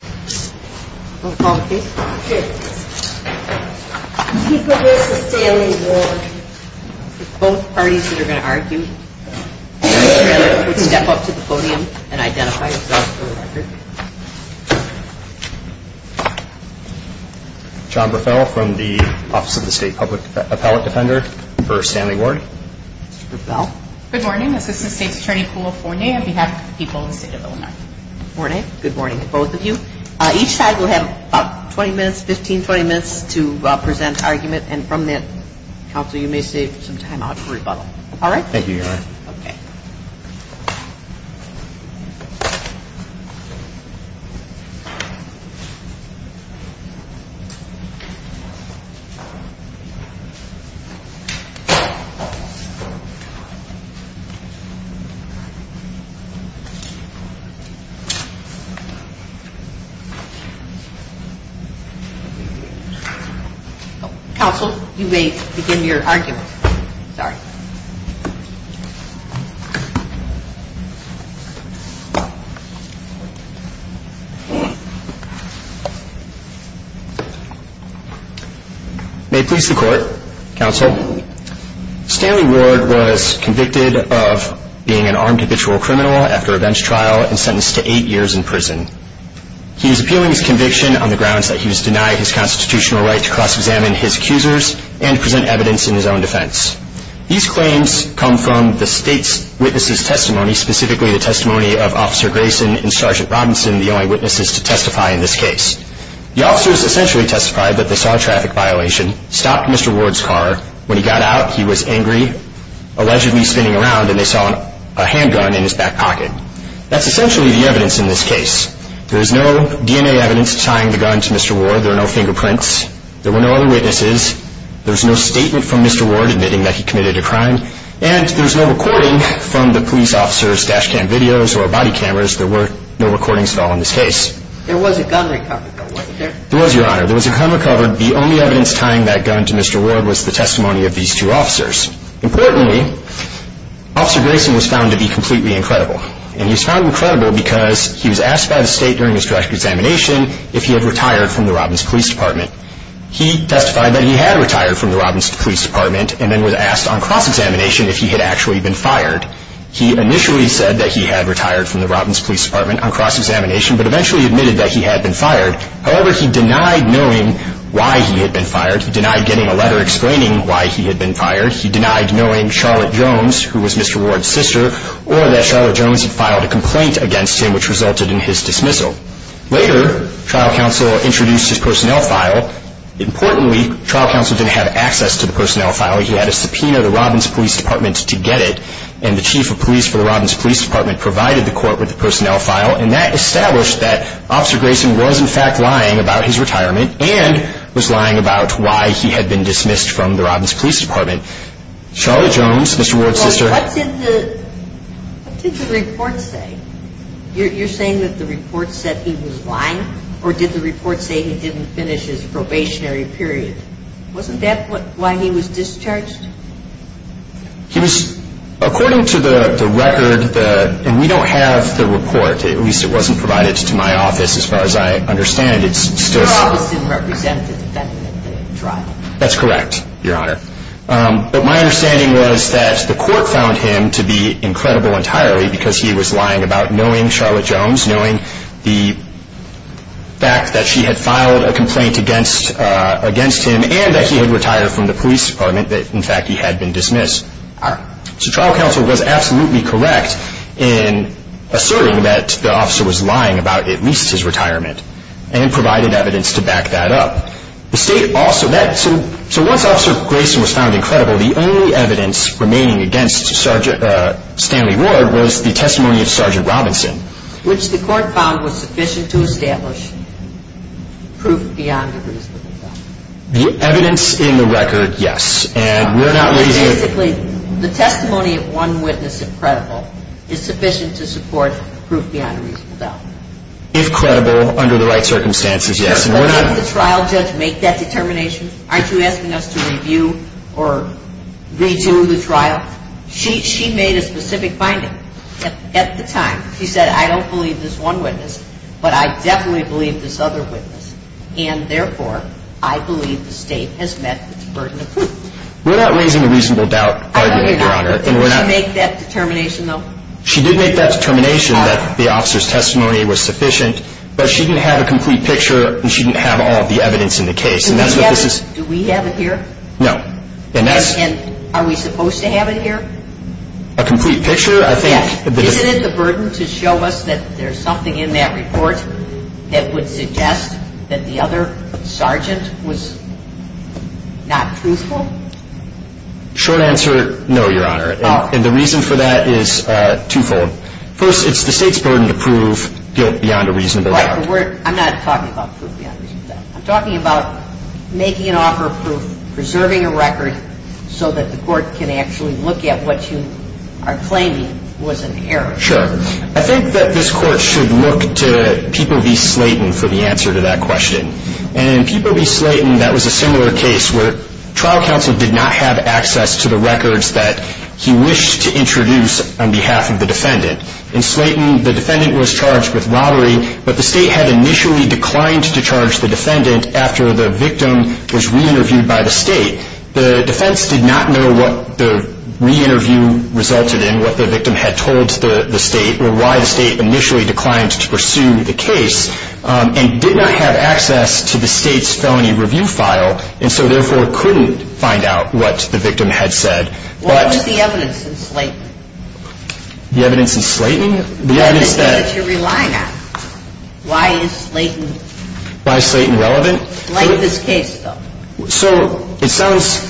on behalf of the people of the state of Illinois. Morning, good morning to both of you. I'm sorry. Each side will have about 20 minutes, 15, 20 minutes to present argument. And from that, counsel, you may save some time out for rebuttal. Counsel, you may begin your argument. May it please the court, counsel, Stanley Ward was convicted of being an armed habitual criminal after a bench trial and sentenced to eight years in prison. He is now serving a ten-year sentence. He is appealing his conviction on the grounds that he was denied his constitutional right to cross-examine his accusers and present evidence in his own defense. These claims come from the state's witnesses' testimony, specifically the testimony of Officer Grayson and Sergeant Robinson, the only witnesses to testify in this case. The officers essentially testified that they saw a traffic violation, stopped Mr. Ward's car. When he got out, he was angry, allegedly spinning around, and they saw a handgun in his back pocket. That's essentially the evidence in this case. There is no DNA evidence tying the gun to Mr. Ward. There are no fingerprints. There were no other witnesses. There's no statement from Mr. Ward admitting that he committed a crime. And there's no recording from the police officers' dash cam videos or body cameras. There were no recordings at all in this case. There was a gun recovered, though, wasn't there? There was, Your Honor. There was a gun recovered. The only evidence tying that gun to Mr. Ward was the testimony of these two officers. Importantly, Officer Grayson was found to be completely incredible. And he was found incredible because he was asked by the state during his direct examination if he had retired from the Robins Police Department. He testified that he had retired from the Robins Police Department and then was asked on cross-examination if he had actually been fired. He initially said that he had retired from the Robins Police Department on cross-examination, but eventually admitted that he had been fired. However, he denied knowing why he had been fired. He denied getting a letter explaining why he had been fired. He denied knowing Charlotte Jones, who was Mr. Ward's sister, or that Charlotte Jones had filed a complaint against him, which resulted in his dismissal. Later, trial counsel introduced his personnel file. Importantly, trial counsel didn't have access to the personnel file. He had a subpoena to the Robins Police Department to get it. And the chief of police for the Robins Police Department provided the court with the personnel file. And that established that Officer Grayson was, in fact, lying about his retirement and was lying about why he had been dismissed from the Robins Police Department. Charlotte Jones, Mr. Ward's sister. What did the report say? You're saying that the report said he was lying? Or did the report say he didn't finish his probationary period? Wasn't that why he was discharged? He was, according to the record, and we don't have the report, at least it wasn't provided to my office as far as I understand it. Your office didn't represent the defendant in the trial? That's correct, Your Honor. But my understanding was that the court found him to be incredible entirely because he was lying about knowing Charlotte Jones, knowing the fact that she had filed a complaint against him and that he had retired from the police department, that, in fact, he had been dismissed. So trial counsel was absolutely correct in asserting that the officer was lying about at least his retirement and provided evidence to back that up. So once Officer Grayson was found incredible, the only evidence remaining against Stanley Ward was the testimony of Sergeant Robinson. Which the court found was sufficient to establish proof beyond a reasonable doubt. The evidence in the record, yes. Basically, the testimony of one witness of credible is sufficient to support proof beyond a reasonable doubt. If credible, under the right circumstances, yes. But didn't the trial judge make that determination? Aren't you asking us to review or redo the trial? She made a specific finding at the time. She said, I don't believe this one witness, but I definitely believe this other witness, and therefore I believe the state has met its burden of proof. We're not raising a reasonable doubt argument, Your Honor. Did she make that determination, though? She did make that determination that the officer's testimony was sufficient, but she didn't have a complete picture and she didn't have all of the evidence in the case. Do we have it here? No. And are we supposed to have it here? A complete picture? Yes. Isn't it the burden to show us that there's something in that report that would suggest that the other sergeant was not truthful? Short answer, no, Your Honor. And the reason for that is twofold. First, it's the state's burden to prove guilt beyond a reasonable doubt. I'm not talking about proof beyond a reasonable doubt. I'm talking about making an offer of proof, preserving a record, so that the court can actually look at what you are claiming was an error. Sure. I think that this Court should look to People v. Slayton for the answer to that question. And in People v. Slayton, that was a similar case where trial counsel did not have access to the records that he wished to introduce on behalf of the defendant. In Slayton, the defendant was charged with robbery, but the state had initially declined to charge the defendant after the victim was re-interviewed by the state. The defense did not know what the re-interview resulted in, what the victim had told the state, or why the state initially declined to pursue the case, and did not have access to the state's felony review file. And so, therefore, couldn't find out what the victim had said. What is the evidence in Slayton? The evidence in Slayton? The evidence that you're relying on. Why is Slayton? Why is Slayton relevant? Like this case, though. So, it sounds,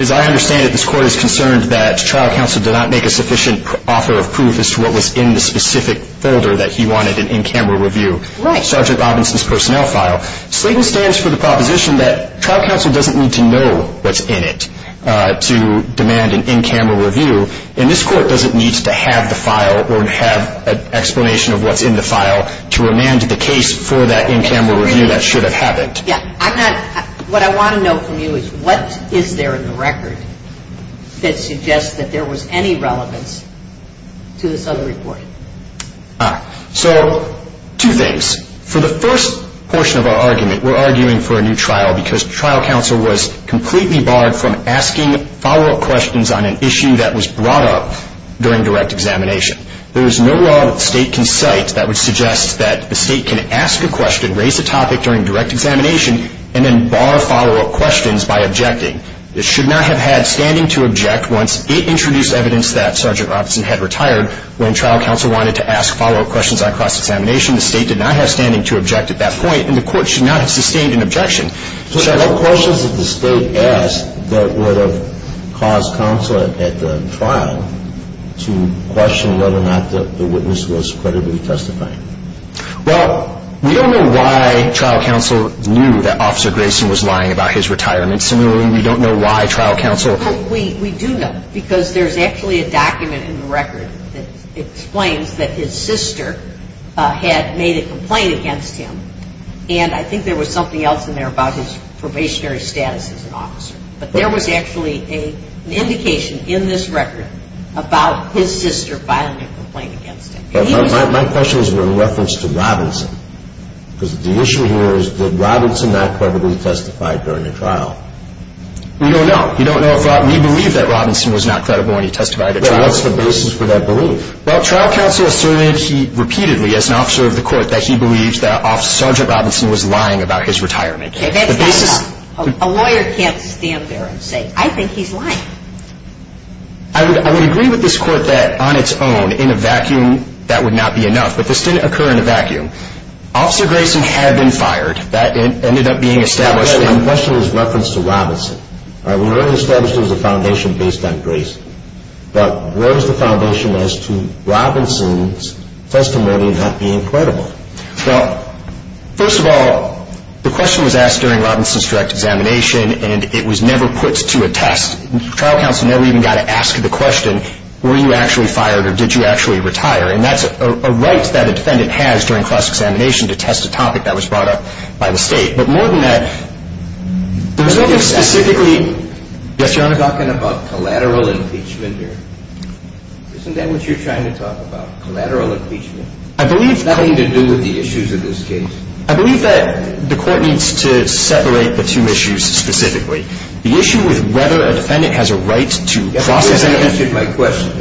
as I understand it, this Court is concerned that trial counsel did not make a sufficient offer of proof as to what was in the specific folder that he wanted an in-camera review. Right. Sergeant Robinson's personnel file. Slayton stands for the proposition that trial counsel doesn't need to know what's in it to demand an in-camera review, and this Court doesn't need to have the file or have an explanation of what's in the file to remand the case for that in-camera review that should have happened. Yeah. What I want to know from you is, what is there in the record that suggests that there was any relevance to this other report? Ah. So, two things. For the first portion of our argument, we're arguing for a new trial because trial counsel was completely barred from asking follow-up questions on an issue that was brought up during direct examination. There is no law that the State can cite that would suggest that the State can ask a question, raise a topic during direct examination, and then bar follow-up questions by objecting. It should not have had standing to object once it introduced evidence that Sergeant Robinson had retired when trial counsel wanted to ask follow-up questions on cross-examination. The State did not have standing to object at that point, and the Court should not have sustained an objection. So there were questions that the State asked that would have caused counsel at the trial to question whether or not the witness was credibly testifying. Well, we don't know why trial counsel knew that Officer Grayson was lying about his retirement. Similarly, we don't know why trial counsel… Well, we do know because there's actually a document in the record that explains that his sister had made a complaint against him, and I think there was something else in there about his probationary status as an officer. But there was actually an indication in this record about his sister filing a complaint against him. My question is in reference to Robinson, because the issue here is did Robinson not credibly testify during the trial? We don't know. We believe that Robinson was not credible when he testified at trial. What's the basis for that belief? Well, trial counsel asserted repeatedly as an officer of the Court that he believed that Sergeant Robinson was lying about his retirement. A lawyer can't stand there and say, I think he's lying. I would agree with this Court that on its own, in a vacuum, that would not be enough. But this didn't occur in a vacuum. Officer Grayson had been fired. That ended up being established. My question is in reference to Robinson. We already established there was a foundation based on Grayson. But where is the foundation as to Robinson's testimony not being credible? Well, first of all, the question was asked during Robinson's direct examination, and it was never put to a test. Trial counsel never even got to ask the question, were you actually fired or did you actually retire? And that's a right that a defendant has during cross-examination to test a topic that was brought up by the State. But more than that, there was nothing specifically... You're talking about collateral impeachment here. Isn't that what you're trying to talk about, collateral impeachment? I believe... Nothing to do with the issues of this case. I believe that the Court needs to separate the two issues specifically. The issue with whether a defendant has a right to cross-examine... You haven't answered my question.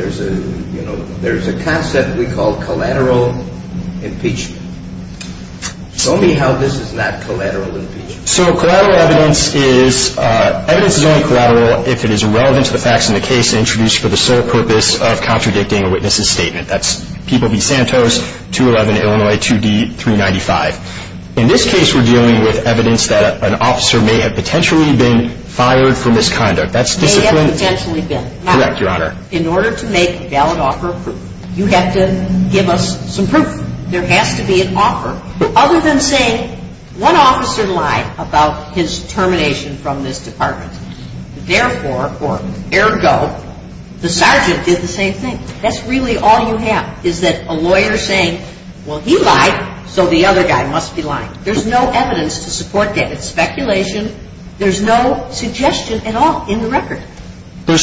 There's a concept we call collateral impeachment. Show me how this is not collateral impeachment. So collateral evidence is only collateral if it is relevant to the facts in the case introduced for the sole purpose of contradicting a witness's statement. That's People v. Santos, 211 Illinois, 2D395. In this case, we're dealing with evidence that an officer may have potentially been fired for misconduct. That's discipline... May have potentially been. Correct, Your Honor. In order to make valid offer of proof, you have to give us some proof. There has to be an offer, other than saying, one officer lied about his termination from this department. Therefore, or ergo, the sergeant did the same thing. That's really all you have, is that a lawyer saying, well, he lied, so the other guy must be lying. There's no evidence to support that. It's speculation. There's no suggestion at all in the record. There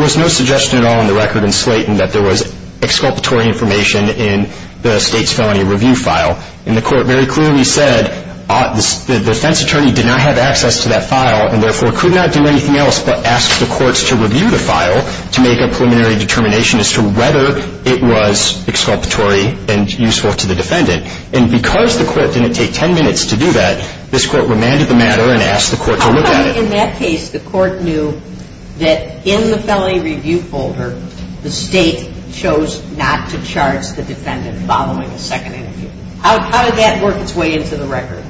was no suggestion at all in the record in Slayton that there was exculpatory information in the state's felony review file. And the court very clearly said the defense attorney did not have access to that file and therefore could not do anything else but ask the courts to review the file to make a preliminary determination as to whether it was exculpatory and useful to the defendant. And because the court didn't take 10 minutes to do that, this court remanded the matter and asked the court to look at it. So in that case, the court knew that in the felony review folder, the state chose not to charge the defendant following a second interview. How did that work its way into the record?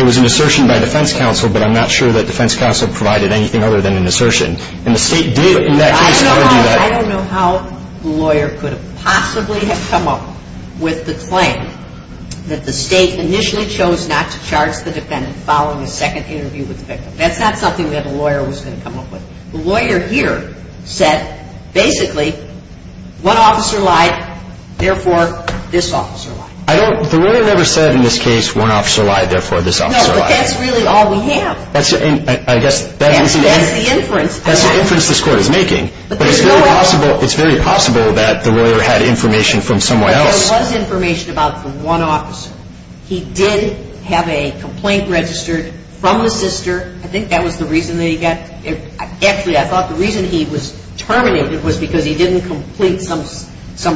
It was an assertion by defense counsel, but I'm not sure that defense counsel provided anything other than an assertion. And the state did in that case argue that. I don't know how the lawyer could have possibly have come up with the claim that the state initially chose not to charge the defendant following a second interview with the victim. That's not something that the lawyer was going to come up with. The lawyer here said basically one officer lied, therefore this officer lied. The lawyer never said in this case one officer lied, therefore this officer lied. No, but that's really all we have. That's the inference this court is making. But it's very possible that the lawyer had information from someone else. There was information about the one officer. He did have a complaint registered from the sister. I think that was the reason that he got – actually I thought the reason he was terminated was because he didn't complete some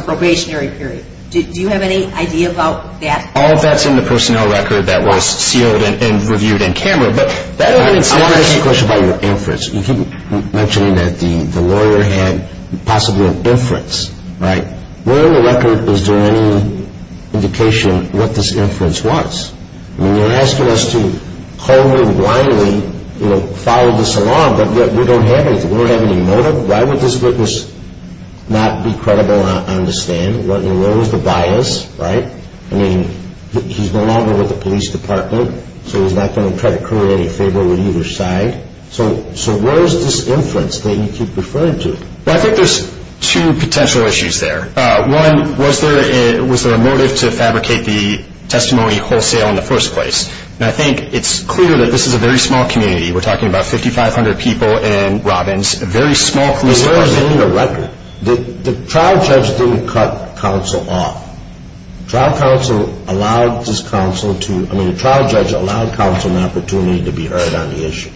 probationary period. Do you have any idea about that? All of that's in the personnel record that was sealed and reviewed in camera. I want to ask you a question about your inference. You keep mentioning that the lawyer had possibly an inference, right? Where in the record is there any indication of what this inference was? You're asking us to coldly and blindly follow this along, but we don't have anything. We don't have any motive. Why would this witness not be credible and understand? Where was the bias, right? I mean, he's no longer with the police department, so he's not going to try to create any favor with either side. So where is this inference that you keep referring to? Well, I think there's two potential issues there. One, was there a motive to fabricate the testimony wholesale in the first place? And I think it's clear that this is a very small community. We're talking about 5,500 people in Robbins, a very small community. There's nothing in the record. The trial judge didn't cut counsel off. The trial judge allowed counsel an opportunity to be heard on the issue.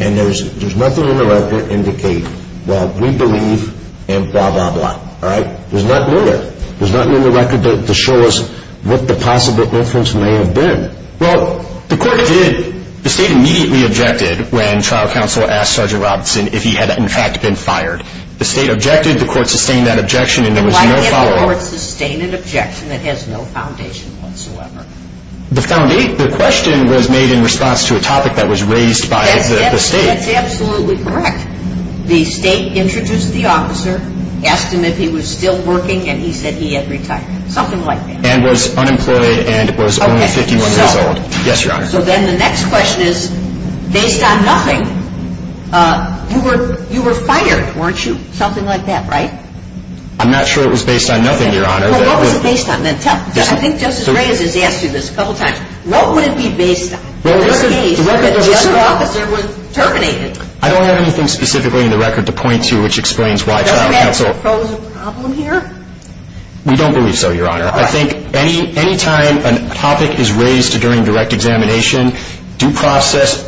And there's nothing in the record indicating, well, we believe in blah, blah, blah. All right? There's nothing in there. There's nothing in the record to show us what the possible inference may have been. Well, the court did. The state immediately objected when trial counsel asked Sergeant Robinson if he had, in fact, been fired. The state objected. The court sustained that objection, and there was no following. Why can't the court sustain an objection that has no foundation whatsoever? The question was made in response to a topic that was raised by the state. That's absolutely correct. The state introduced the officer, asked him if he was still working, and he said he had retired. Something like that. And was unemployed and was only 51 years old. Yes, Your Honor. So then the next question is, based on nothing, you were fired, weren't you? Something like that, right? I'm not sure it was based on nothing, Your Honor. Well, what was it based on? I think Justice Reyes has asked you this a couple of times. What would it be based on? Well, the record says the officer was terminated. I don't have anything specifically in the record to point to which explains why trial counsel Doesn't that pose a problem here? We don't believe so, Your Honor. I think any time a topic is raised during direct examination, due process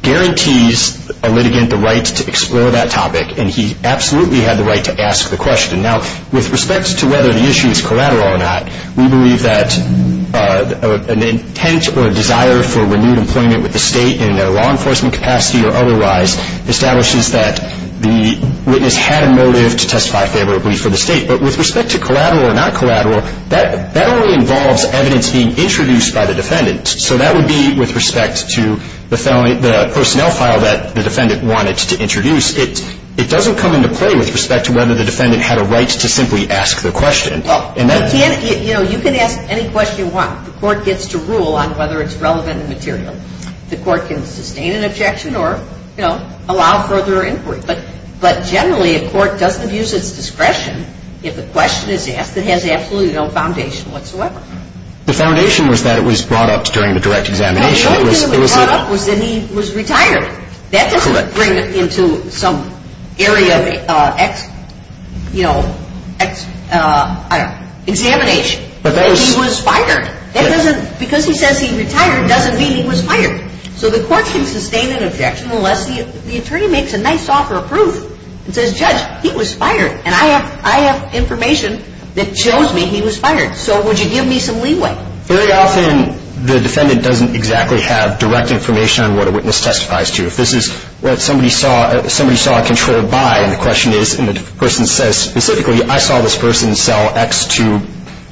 guarantees a litigant the right to explore that topic. And he absolutely had the right to ask the question. Now, with respect to whether the issue is collateral or not, we believe that an intent or a desire for renewed employment with the state in a law enforcement capacity or otherwise establishes that the witness had a motive to testify favorably for the state. But with respect to collateral or not collateral, that only involves evidence being introduced by the defendant. So that would be with respect to the personnel file that the defendant wanted to introduce. It doesn't come into play with respect to whether the defendant had a right to simply ask the question. You know, you can ask any question you want. The court gets to rule on whether it's relevant and material. The court can sustain an objection or, you know, allow further inquiry. But generally, a court doesn't use its discretion if the question is asked that has absolutely no foundation whatsoever. The foundation was that it was brought up during the direct examination. The only thing that was brought up was that he was retired. That doesn't bring it into some area of, you know, examination. He was fired. Because he says he retired doesn't mean he was fired. So the court can sustain an objection unless the attorney makes a nice offer of proof and says, Judge, he was fired, and I have information that shows me he was fired. So would you give me some leeway? Very often the defendant doesn't exactly have direct information on what a witness testifies to. If this is what somebody saw, somebody saw controlled by, and the question is, and the person says specifically, I saw this person sell X to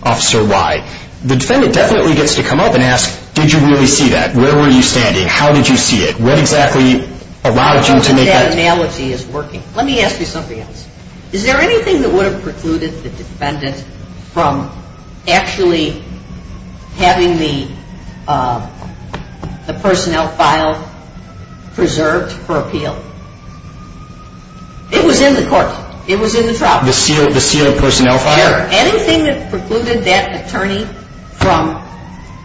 Officer Y, the defendant definitely gets to come up and ask, did you really see that? Where were you standing? How did you see it? What exactly allowed you to make that? I don't think that analogy is working. Let me ask you something else. Is there anything that would have precluded the defendant from actually having the personnel file preserved for appeal? It was in the court. It was in the trial. The sealed personnel file? Is there anything that precluded that attorney from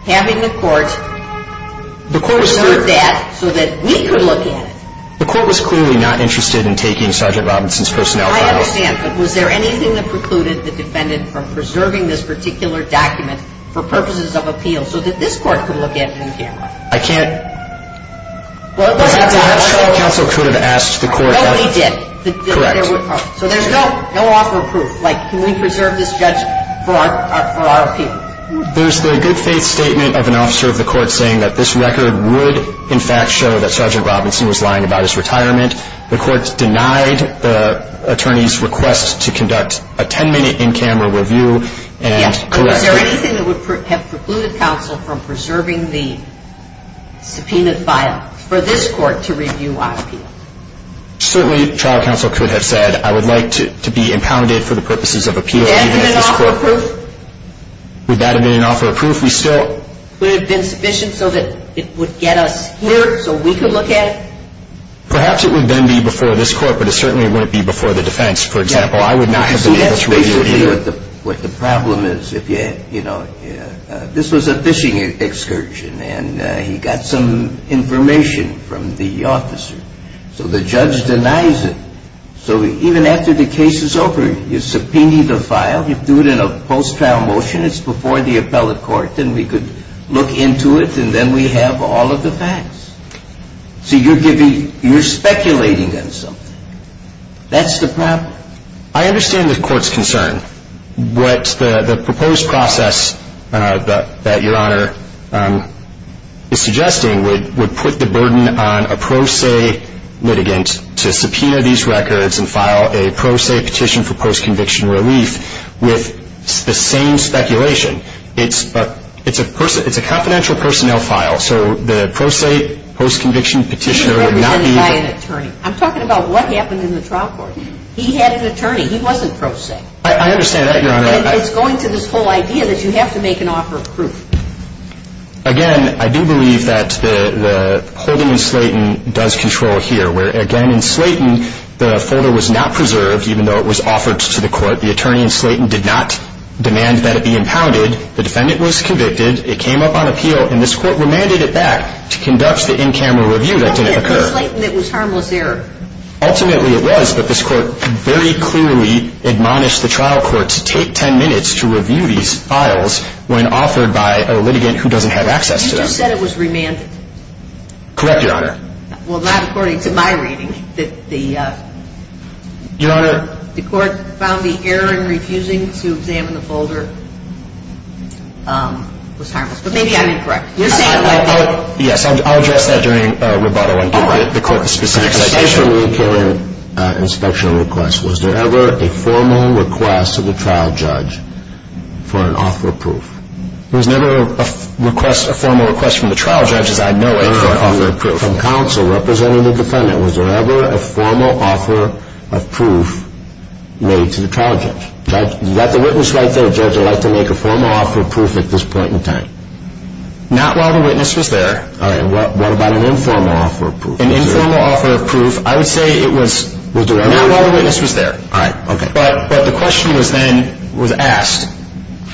having the court preserve that so that we could look at it? The court was clearly not interested in taking Sergeant Robinson's personnel file. I understand. But was there anything that precluded the defendant from preserving this particular document for purposes of appeal so that this court could look at it in camera? I can't. Well, it wasn't that. Counsel could have asked the court. No, he did. Correct. So there's no offer of proof. Like, can we preserve this judge for our appeal? There's the good faith statement of an officer of the court saying that this record would, in fact, show that Sergeant Robinson was lying about his retirement. The court denied the attorney's request to conduct a 10-minute in-camera review. Is there anything that would have precluded counsel from preserving the subpoenaed file for this court to review our appeal? Certainly, trial counsel could have said, I would like to be impounded for the purposes of appeal. Would that have been an offer of proof? Would that have been an offer of proof? Would it have been sufficient so that it would get us here so we could look at it? Perhaps it would then be before this court, but it certainly wouldn't be before the defense, for example. I would not have been able to review it either. See, that's basically what the problem is. This was a fishing excursion, and he got some information from the officer. So the judge denies it. So even after the case is over, you subpoena the file. You do it in a post-trial motion. It's before the appellate court. Then we could look into it, and then we have all of the facts. So you're speculating on something. That's the problem. I understand the court's concern. What the proposed process that Your Honor is suggesting would put the burden on a pro se litigant to subpoena these records and file a pro se petition for post-conviction relief with the same speculation. It's a confidential personnel file, so the pro se post-conviction petitioner would not be able to He was represented by an attorney. I'm talking about what happened in the trial court. He had an attorney. He wasn't pro se. I understand that, Your Honor. And it's going to this whole idea that you have to make an offer of proof. Again, I do believe that the holding in Slayton does control here, where, again, in Slayton, the folder was not preserved even though it was offered to the court. The attorney in Slayton did not demand that it be impounded. The defendant was convicted. It came up on appeal, and this court remanded it back to conduct the in-camera review that didn't occur. It wasn't in Slayton that was harmless there. Ultimately, it was, but this court very clearly admonished the trial court to take 10 minutes to review these files when offered by a litigant who doesn't have access to them. You just said it was remanded. Correct, Your Honor. Well, not according to my reading. Your Honor. The court found the error in refusing to examine the folder was harmless. But maybe I'm incorrect. Yes, I'll address that during rebuttal and give the court a specific citation. According to the in-camera inspection request, was there ever a formal request to the trial judge for an offer of proof? There was never a formal request from the trial judge, as I know it, for an offer of proof. From counsel representing the defendant, was there ever a formal offer of proof made to the trial judge? Do you have the witness right there, Judge? Would you like to make a formal offer of proof at this point in time? Not while the witness was there. All right. What about an informal offer of proof? An informal offer of proof, I would say it was not while the witness was there. All right. Okay. But the question was then asked,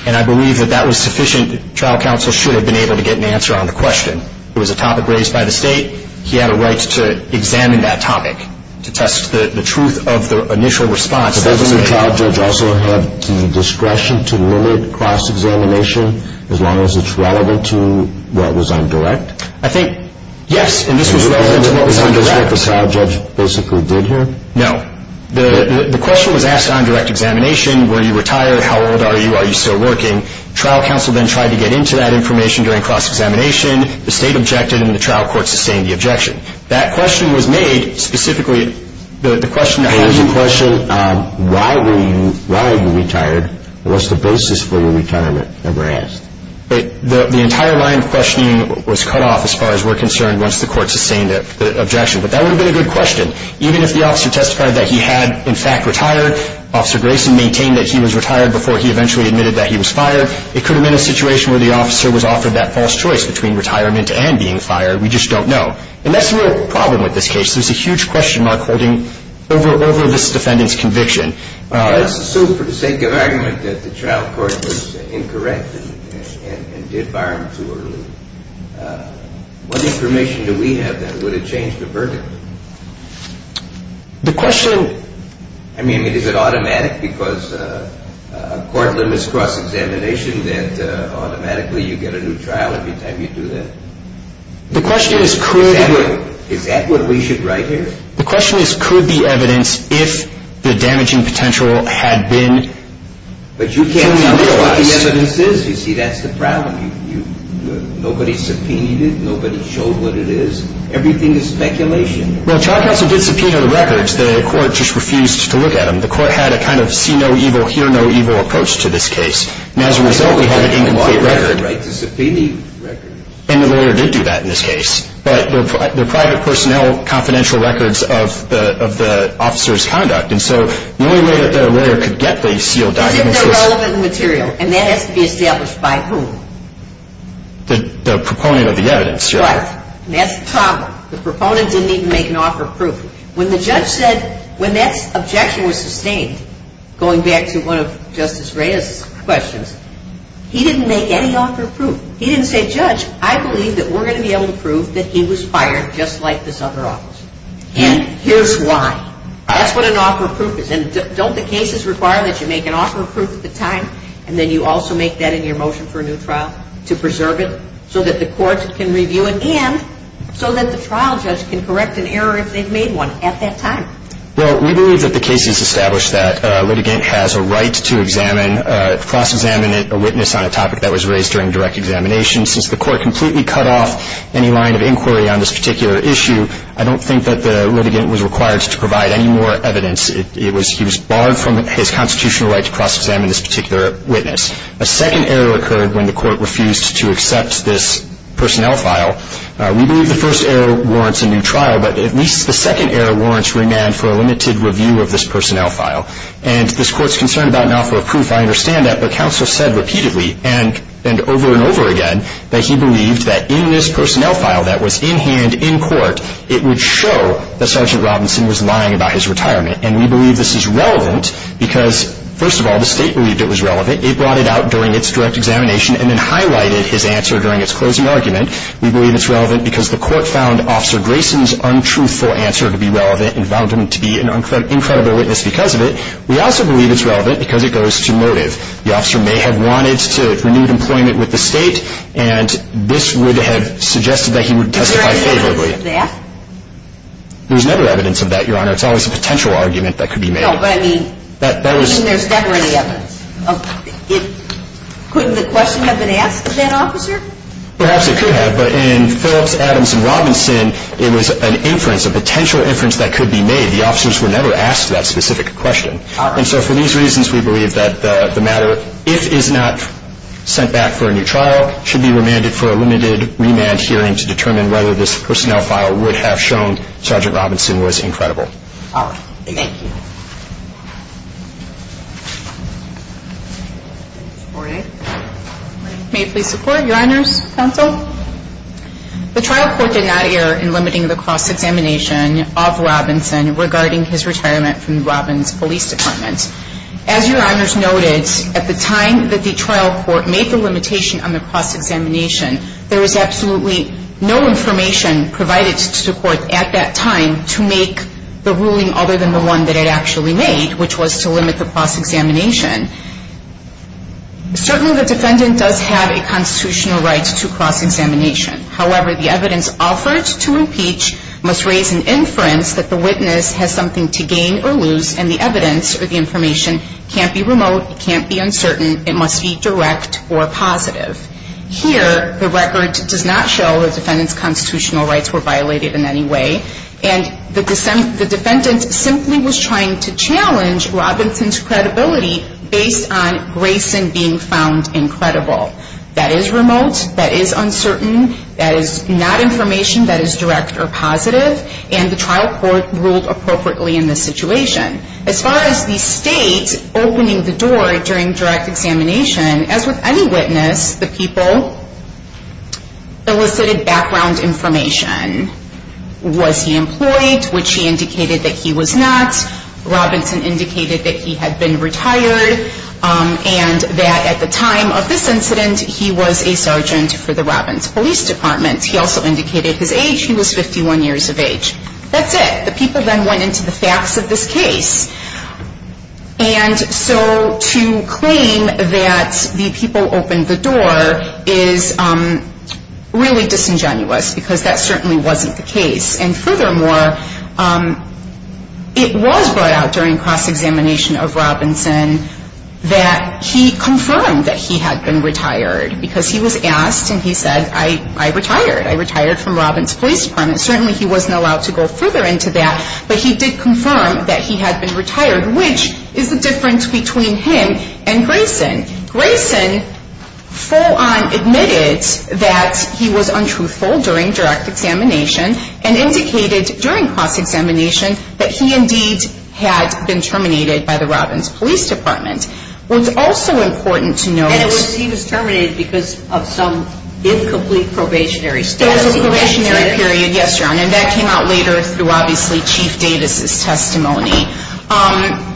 and I believe that that was sufficient. Trial counsel should have been able to get an answer on the question. It was a topic raised by the State. He had a right to examine that topic to test the truth of the initial response. But doesn't the trial judge also have the discretion to limit cross-examination as long as it's relevant to what was on direct? I think, yes, and this was relevant to what was on direct. Is this what the trial judge basically did here? No. The question was asked on direct examination. Were you retired? How old are you? Are you still working? Trial counsel then tried to get into that information during cross-examination. The State objected, and the trial court sustained the objection. That question was made specifically, the question, how did you? It was a question, why were you, why are you retired? What's the basis for your retirement? That was asked. The entire line of questioning was cut off as far as we're concerned once the court sustained the objection. But that would have been a good question. Even if the officer testified that he had, in fact, retired, Officer Grayson maintained that he was retired before he eventually admitted that he was fired, it could have been a situation where the officer was offered that false choice between retirement and being fired. We just don't know. And that's the real problem with this case. There's a huge question mark holding over this defendant's conviction. Let's assume for the sake of argument that the trial court was incorrect and did fire him too early. What information do we have that would have changed the verdict? The question. I mean, is it automatic? Because a court limits cross-examination that automatically you get a new trial every time you do that. The question is could. Is that what we should write here? The question is could the evidence, if the damaging potential had been fully realized. But you can't tell me what the evidence is. You see, that's the problem. Nobody subpoenaed it. Nobody showed what it is. Everything is speculation. Well, trial counsel did subpoena the records. The court just refused to look at them. The court had a kind of see-no-evil, hear-no-evil approach to this case. And as a result, we had an incomplete record. And the lawyer did do that in this case. But they're private personnel confidential records of the officer's conduct. And so the only way that a lawyer could get these sealed documents is if they're relevant material. And that has to be established by whom? The proponent of the evidence. Right. And that's the problem. The proponent didn't even make an offer of proof. When the judge said, when that objection was sustained, going back to one of Justice Reyes's questions, he didn't make any offer of proof. He didn't say, Judge, I believe that we're going to be able to prove that he was fired just like this other officer. And here's why. That's what an offer of proof is. And don't the cases require that you make an offer of proof at the time, and then you also make that in your motion for a new trial to preserve it so that the courts can review it, and so that the trial judge can correct an error if they've made one at that time? Well, we believe that the case has established that a litigant has a right to examine, cross-examine a witness on a topic that was raised during direct examination. Since the court completely cut off any line of inquiry on this particular issue, I don't think that the litigant was required to provide any more evidence. He was barred from his constitutional right to cross-examine this particular witness. A second error occurred when the court refused to accept this personnel file. We believe the first error warrants a new trial, but at least the second error warrants remand for a limited review of this personnel file. And this Court's concern about an offer of proof, I understand that, but counsel said repeatedly and over and over again that he believed that in this personnel file that was in hand in court, it would show that Sergeant Robinson was lying about his retirement. And we believe this is relevant because, first of all, the State believed it was relevant. It brought it out during its direct examination and then highlighted his answer during its closing argument. We believe it's relevant because the Court found Officer Grayson's untruthful answer to be relevant and found him to be an incredible witness because of it. We also believe it's relevant because it goes to motive. The officer may have wanted to renew employment with the State, and this would have suggested that he would testify favorably. Is there evidence of that? There's never evidence of that, Your Honor. It's always a potential argument that could be made. No, but I mean, there's never any evidence. Couldn't the question have been asked of that officer? Perhaps it could have, but in Phillips, Adams, and Robinson, it was an inference, a potential inference that could be made. The officers were never asked that specific question. All right. And so for these reasons, we believe that the matter, if it is not sent back for a new trial, should be remanded for a limited remand hearing to determine whether this personnel file would have shown Sergeant Robinson was incredible. All right. Thank you. May I please support, Your Honors Counsel? The trial court did not err in limiting the cross-examination of Robinson regarding his retirement from the Robins Police Department. As Your Honors noted, at the time that the trial court made the limitation on the cross-examination, there was absolutely no information provided to the court at that time to make the ruling other than the one that it actually made, which was to limit the cross-examination. Certainly, the defendant does have a constitutional right to cross-examination. However, the evidence offered to impeach must raise an inference that the witness has something to gain or lose, and the evidence or the information can't be remote, can't be uncertain. It must be direct or positive. Here, the record does not show the defendant's constitutional rights were violated in any way, and the defendant simply was trying to challenge Robinson's credibility based on Grayson being found incredible. That is remote, that is uncertain, that is not information that is direct or positive, and the trial court ruled appropriately in this situation. As far as the state opening the door during direct examination, as with any witness, the people elicited background information. Was he employed, which he indicated that he was not. Robinson indicated that he had been retired and that at the time of this incident he was a sergeant for the Robins Police Department. He also indicated his age. He was 51 years of age. That's it. The people then went into the facts of this case. And so to claim that the people opened the door is really disingenuous because that certainly wasn't the case. And furthermore, it was brought out during cross-examination of Robinson that he confirmed that he had been retired because he was asked and he said, I retired, I retired from Robins Police Department. Certainly he wasn't allowed to go further into that, but he did confirm that he had been retired, which is the difference between him and Grayson. Grayson full-on admitted that he was untruthful during direct examination and indicated during cross-examination that he indeed had been terminated by the Robins Police Department. What's also important to note. And he was terminated because of some incomplete probationary status. Yes, probationary period. And that came out later through obviously Chief Davis' testimony.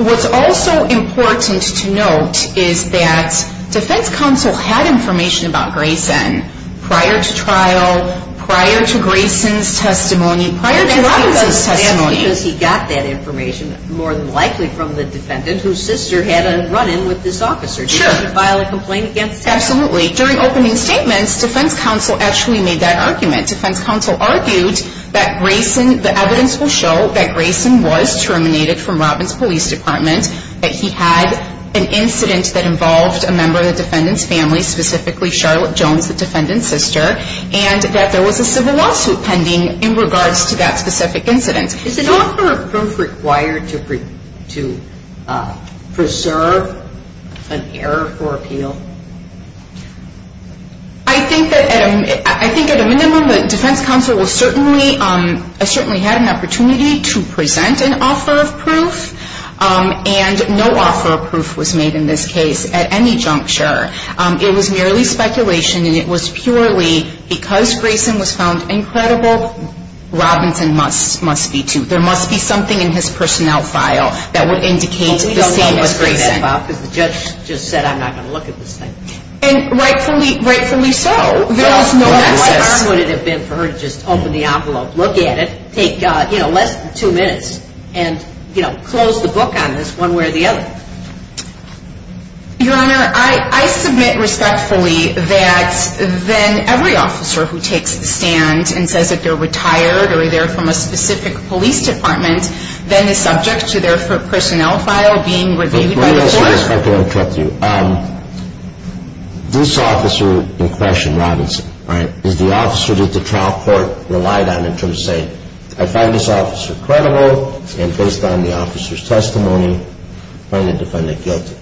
What's also important to note is that defense counsel had information about Grayson prior to trial, prior to Grayson's testimony, prior to Robinson's testimony. And that's because he got that information more than likely from the defendant whose sister had a run-in with this officer. Sure. Did he file a complaint against her? Absolutely. During opening statements, defense counsel actually made that argument. Defense counsel argued that Grayson, the evidence will show that Grayson was terminated from Robins Police Department, that he had an incident that involved a member of the defendant's family, specifically Charlotte Jones, the defendant's sister, and that there was a civil lawsuit pending in regards to that specific incident. Is an offer of proof required to preserve an error for appeal? I think at a minimum that defense counsel certainly had an opportunity to present an offer of proof. And no offer of proof was made in this case at any juncture. It was merely speculation, and it was purely because Grayson was found incredible, Robinson must be too. There must be something in his personnel file that would indicate the same as Grayson. Well, we don't know what's in that file because the judge just said I'm not going to look at this thing. And rightfully so. There was no access. What harm would it have been for her to just open the envelope, look at it, take, you know, less than two minutes, and, you know, close the book on this one way or the other? Your Honor, I submit respectfully that then every officer who takes the stand and says that they're retired or they're from a specific police department then is subject to their personnel file being reviewed by the court. Let me ask you this question and correct you. This officer in question, Robinson, right, is the officer that the trial court relied on in terms of saying, I find this officer credible and based on the officer's testimony. I find the defendant guilty.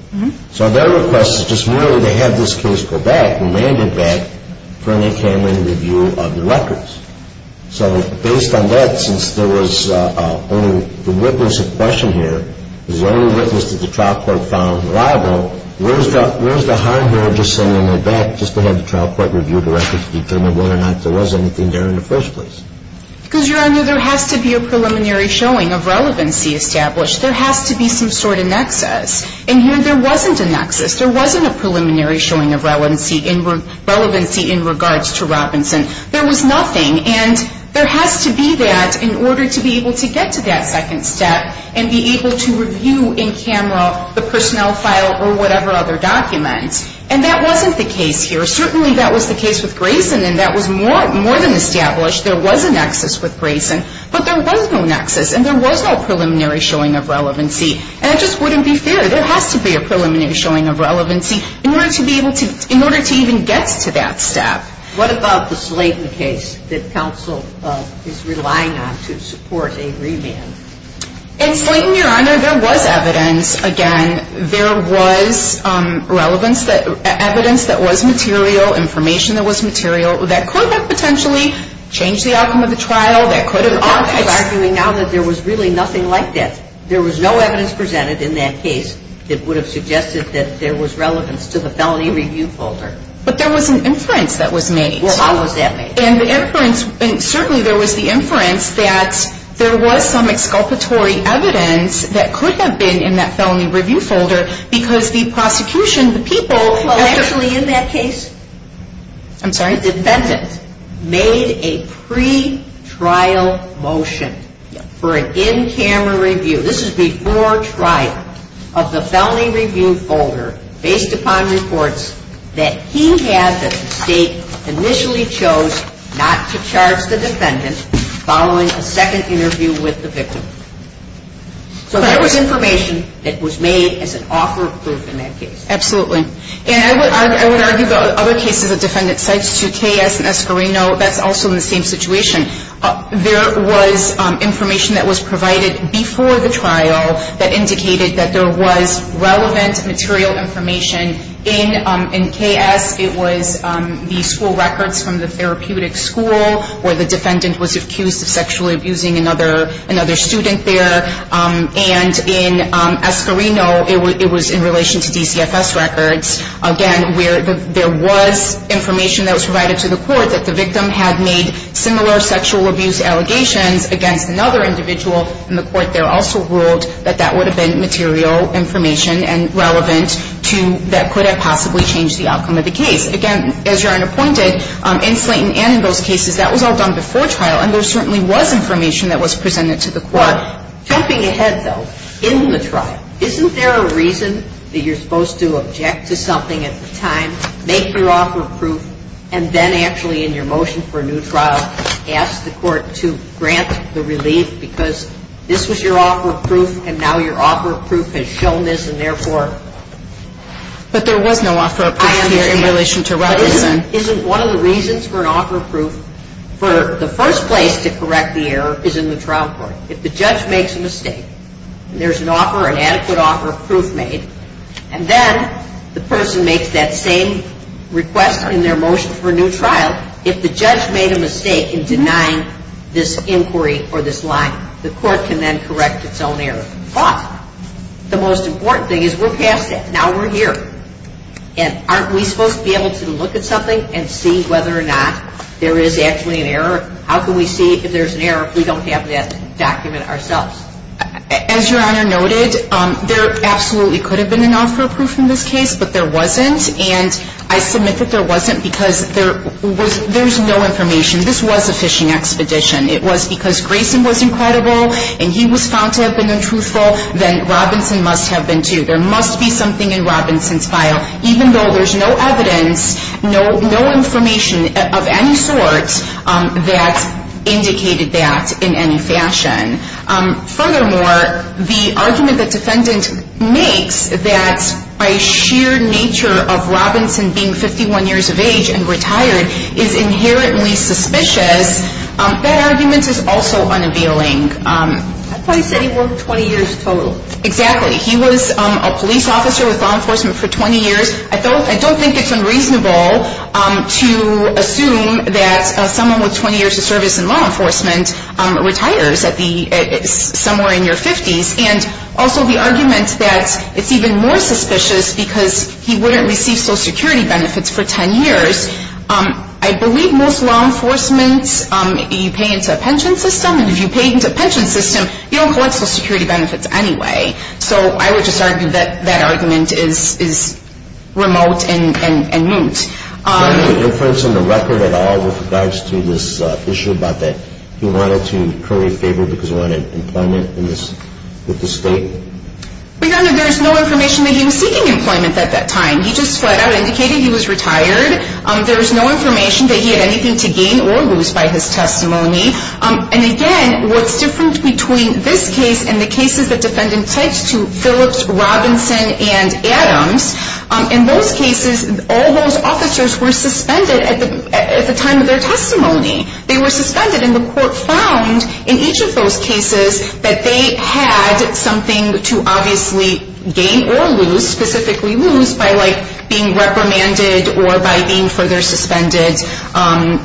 So their request is just merely to have this case go back, remanded back for any kind of review of the records. So based on that, since there was only the witness in question here is the only witness that the trial court found liable, where's the harm there just sitting in the back just to have the trial court review the records to determine whether or not there was anything there in the first place? Because, Your Honor, there has to be a preliminary showing of relevancy established. There has to be some sort of nexus. And here there wasn't a nexus. There wasn't a preliminary showing of relevancy in regards to Robinson. There was nothing. And there has to be that in order to be able to get to that second step and be able to review in camera the personnel file or whatever other document. And that wasn't the case here. Certainly that was the case with Grayson, and that was more than established. There was a nexus with Grayson. But there was no nexus, and there was no preliminary showing of relevancy. And it just wouldn't be fair. There has to be a preliminary showing of relevancy in order to even get to that step. What about the Slayton case that counsel is relying on to support a remand? In Slayton, Your Honor, there was evidence. Again, there was evidence that was material, information that was material, that could have potentially changed the outcome of the trial. There was really nothing like that. There was no evidence presented in that case that would have suggested that there was relevance to the felony review folder. But there was an inference that was made. Well, how was that made? And certainly there was the inference that there was some exculpatory evidence that could have been in that felony review folder because the prosecution, the people actually in that case. I'm sorry? The defendant made a pretrial motion for an in-camera review. This is before trial of the felony review folder based upon reports that he had that the state initially chose not to charge the defendant following a second interview with the victim. So there was information that was made as an offer of proof in that case. Absolutely. And I would argue that other cases a defendant cites to KS and Escarino, that's also in the same situation. There was information that was provided before the trial that indicated that there was relevant material information in KS. It was the school records from the therapeutic school where the defendant was accused of sexually abusing another student there. And in Escarino, it was in relation to DCFS records, again, where there was information that was provided to the court that the victim had made similar sexual abuse allegations against another individual. And the court there also ruled that that would have been material information and relevant to that could have possibly changed the outcome of the case. Again, as your Honor pointed, in Slayton and in those cases, that was all done before trial. And there certainly was information that was presented to the court. But jumping ahead, though, in the trial, isn't there a reason that you're supposed to object to something at the time, make your offer of proof, and then actually in your motion for a new trial, ask the court to grant the relief because this was your offer of proof, and now your offer of proof has shown this, and therefore. But there was no offer of proof here in relation to Robinson. Isn't one of the reasons for an offer of proof, for the first place to correct the error is in the trial court. If the judge makes a mistake and there's an offer, an adequate offer of proof made, and then the person makes that same request in their motion for a new trial, if the judge made a mistake in denying this inquiry or this line, the court can then correct its own error. But the most important thing is we're past that. Now we're here. And aren't we supposed to be able to look at something and see whether or not there is actually an error? How can we see if there's an error if we don't have that document ourselves? As Your Honor noted, there absolutely could have been an offer of proof in this case, but there wasn't, and I submit that there wasn't because there's no information. This was a fishing expedition. It was because Grayson was incredible, and he was found to have been untruthful, then Robinson must have been, too. There must be something in Robinson's file, even though there's no evidence, no information of any sort that indicated that in any fashion. Furthermore, the argument the defendant makes that by sheer nature of Robinson being 51 years of age and retired is inherently suspicious, that argument is also unappealing. I thought he said he worked 20 years total. Exactly. He was a police officer with law enforcement for 20 years. I don't think it's unreasonable to assume that someone with 20 years of service in law enforcement retires somewhere in your 50s, and also the argument that it's even more suspicious because he wouldn't receive Social Security benefits for 10 years. I believe most law enforcement, you pay into a pension system, you don't collect Social Security benefits anyway. So I would just argue that that argument is remote and moot. Is there any inference in the record at all with regards to this issue about that he wanted to curry favor because he wanted employment with the state? Your Honor, there is no information that he was seeking employment at that time. He just flat out indicated he was retired. There is no information that he had anything to gain or lose by his testimony. And again, what's different between this case and the cases that defendants said to Phillips, Robinson, and Adams, in those cases, all those officers were suspended at the time of their testimony. They were suspended, and the court found in each of those cases that they had something to obviously gain or lose, specifically lose by being reprimanded or by being further suspended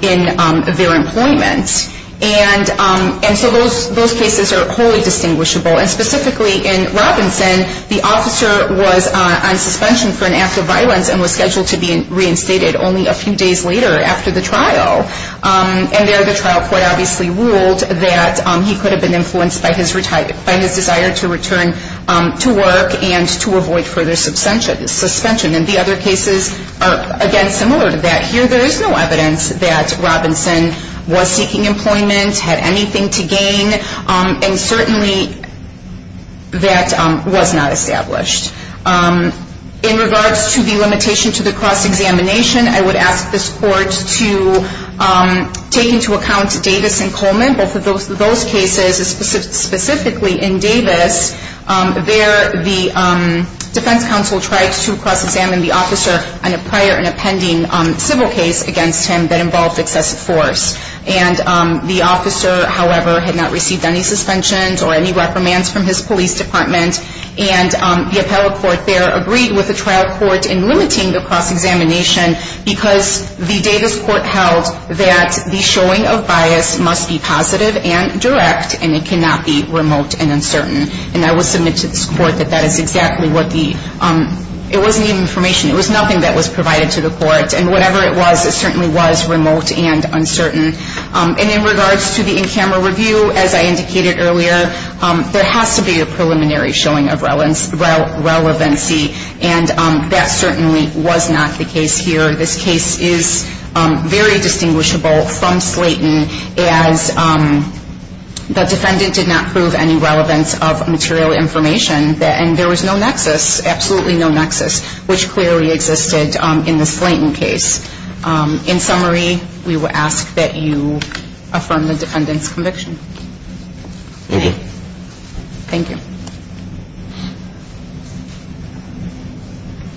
in their employment. And so those cases are wholly distinguishable. And specifically in Robinson, the officer was on suspension for an act of violence and was scheduled to be reinstated only a few days later after the trial. And there the trial court obviously ruled that he could have been influenced by his desire to return to work and to avoid further suspension. And the other cases are, again, similar to that. Here, there is no evidence that Robinson was seeking employment, had anything to gain, and certainly that was not established. In regards to the limitation to the cross-examination, I would ask this court to take into account Davis and Coleman, both of those cases. Specifically in Davis, there the defense counsel tried to cross-examine the officer on a prior and a pending civil case against him that involved excessive force. And the officer, however, had not received any suspensions or any reprimands from his police department. And the appellate court there agreed with the trial court in limiting the cross-examination because the Davis court held that the showing of bias must be positive and direct and it cannot be remote and uncertain. And I would submit to this court that that is exactly what the – it wasn't even information. It was nothing that was provided to the court. And whatever it was, it certainly was remote and uncertain. And in regards to the in-camera review, as I indicated earlier, there has to be a preliminary showing of relevancy. And that certainly was not the case here. This case is very distinguishable from Slayton as the defendant did not prove any relevance of material information. And there was no nexus, absolutely no nexus, which clearly existed in the Slayton case. In summary, we would ask that you affirm the defendant's conviction. Thank you. Thank you.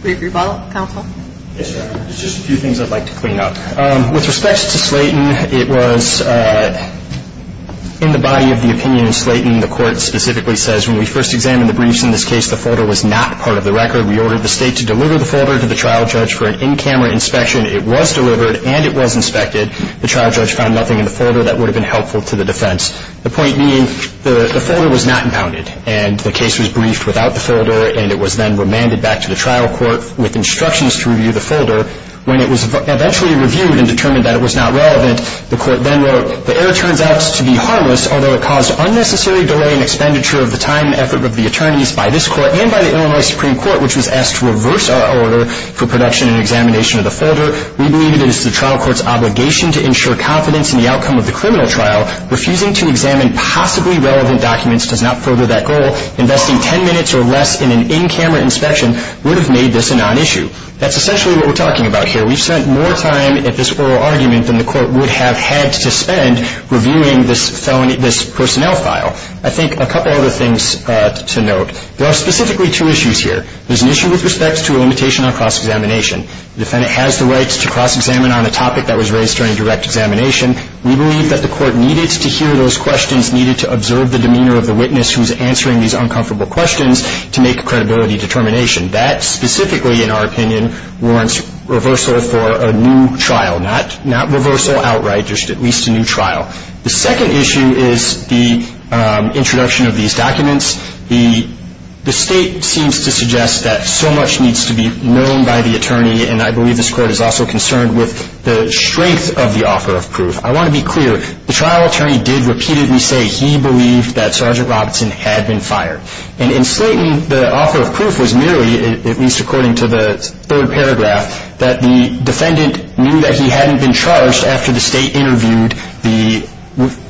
Brief rebuttal, counsel. Yes, Your Honor. Just a few things I'd like to clean up. With respect to Slayton, it was in the body of the opinion in Slayton, the court specifically says when we first examined the briefs in this case, the folder was not part of the record. We ordered the State to deliver the folder to the trial judge for an in-camera inspection. It was delivered and it was inspected. The trial judge found nothing in the folder that would have been helpful to the defense. The point being, the folder was not impounded and the case was briefed without the folder and it was then remanded back to the trial court with instructions to review the folder. When it was eventually reviewed and determined that it was not relevant, the court then wrote, the error turns out to be harmless, although it caused unnecessary delay in expenditure of the time and effort of the attorneys by this court and by the Illinois Supreme Court, which was asked to reverse our order for production and examination of the folder. We believe it is the trial court's obligation to ensure confidence in the outcome of the criminal trial. Refusing to examine possibly relevant documents does not further that goal. Investing 10 minutes or less in an in-camera inspection would have made this a non-issue. That's essentially what we're talking about here. We've spent more time at this oral argument than the court would have had to spend reviewing this personnel file. I think a couple other things to note. There are specifically two issues here. There's an issue with respect to a limitation on cross-examination. The defendant has the right to cross-examine on a topic that was raised during direct examination. We believe that the court needed to hear those questions, needed to observe the demeanor of the witness who's answering these uncomfortable questions to make a credibility determination. That specifically, in our opinion, warrants reversal for a new trial. Not reversal outright, just at least a new trial. The second issue is the introduction of these documents. The state seems to suggest that so much needs to be known by the attorney, and I believe this court is also concerned with the strength of the offer of proof. I want to be clear. The trial attorney did repeatedly say he believed that Sergeant Robinson had been fired. And in Slayton, the offer of proof was merely, at least according to the third paragraph, that the defendant knew that he hadn't been charged after the state interviewed the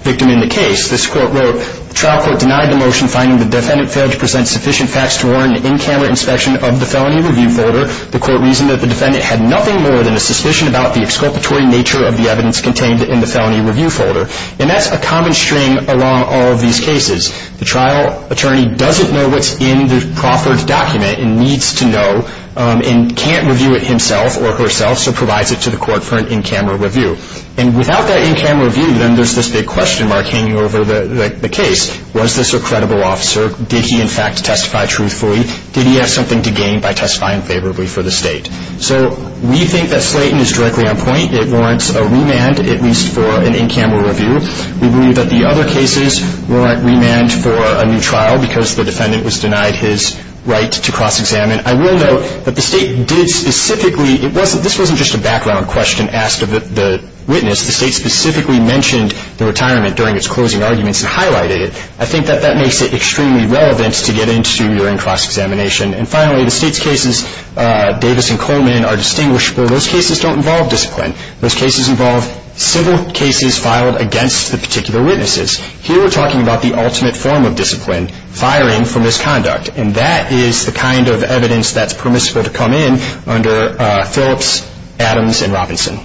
victim in the case. This court wrote, The trial court denied the motion finding the defendant failed to present sufficient facts to warrant an in-camera inspection of the felony review folder. The court reasoned that the defendant had nothing more than a suspicion about the exculpatory nature of the evidence contained in the felony review folder. And that's a common string along all of these cases. The trial attorney doesn't know what's in the proffered document and needs to know and can't review it himself or herself, so provides it to the court for an in-camera review. And without that in-camera review, then there's this big question mark hanging over the case. Was this a credible officer? Did he, in fact, testify truthfully? Did he have something to gain by testifying favorably for the state? So we think that Slayton is directly on point. It warrants a remand, at least for an in-camera review. We believe that the other cases warrant remand for a new trial because the defendant was denied his right to cross-examine. I will note that the State did specifically, this wasn't just a background question asked of the witness. The State specifically mentioned the retirement during its closing arguments and highlighted it. I think that that makes it extremely relevant to get into during cross-examination. And finally, the State's cases, Davis and Coleman, are distinguishable. Those cases don't involve discipline. Those cases involve simple cases filed against the particular witnesses. Here we're talking about the ultimate form of discipline, firing for misconduct. And that is the kind of evidence that's permissible to come in under Phillips, Adams, and Robinson.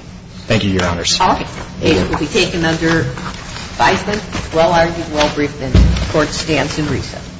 Thank you, Your Honors. All right. The case will be taken under Bison. Well-argued, well-briefed, and the court stands in recess.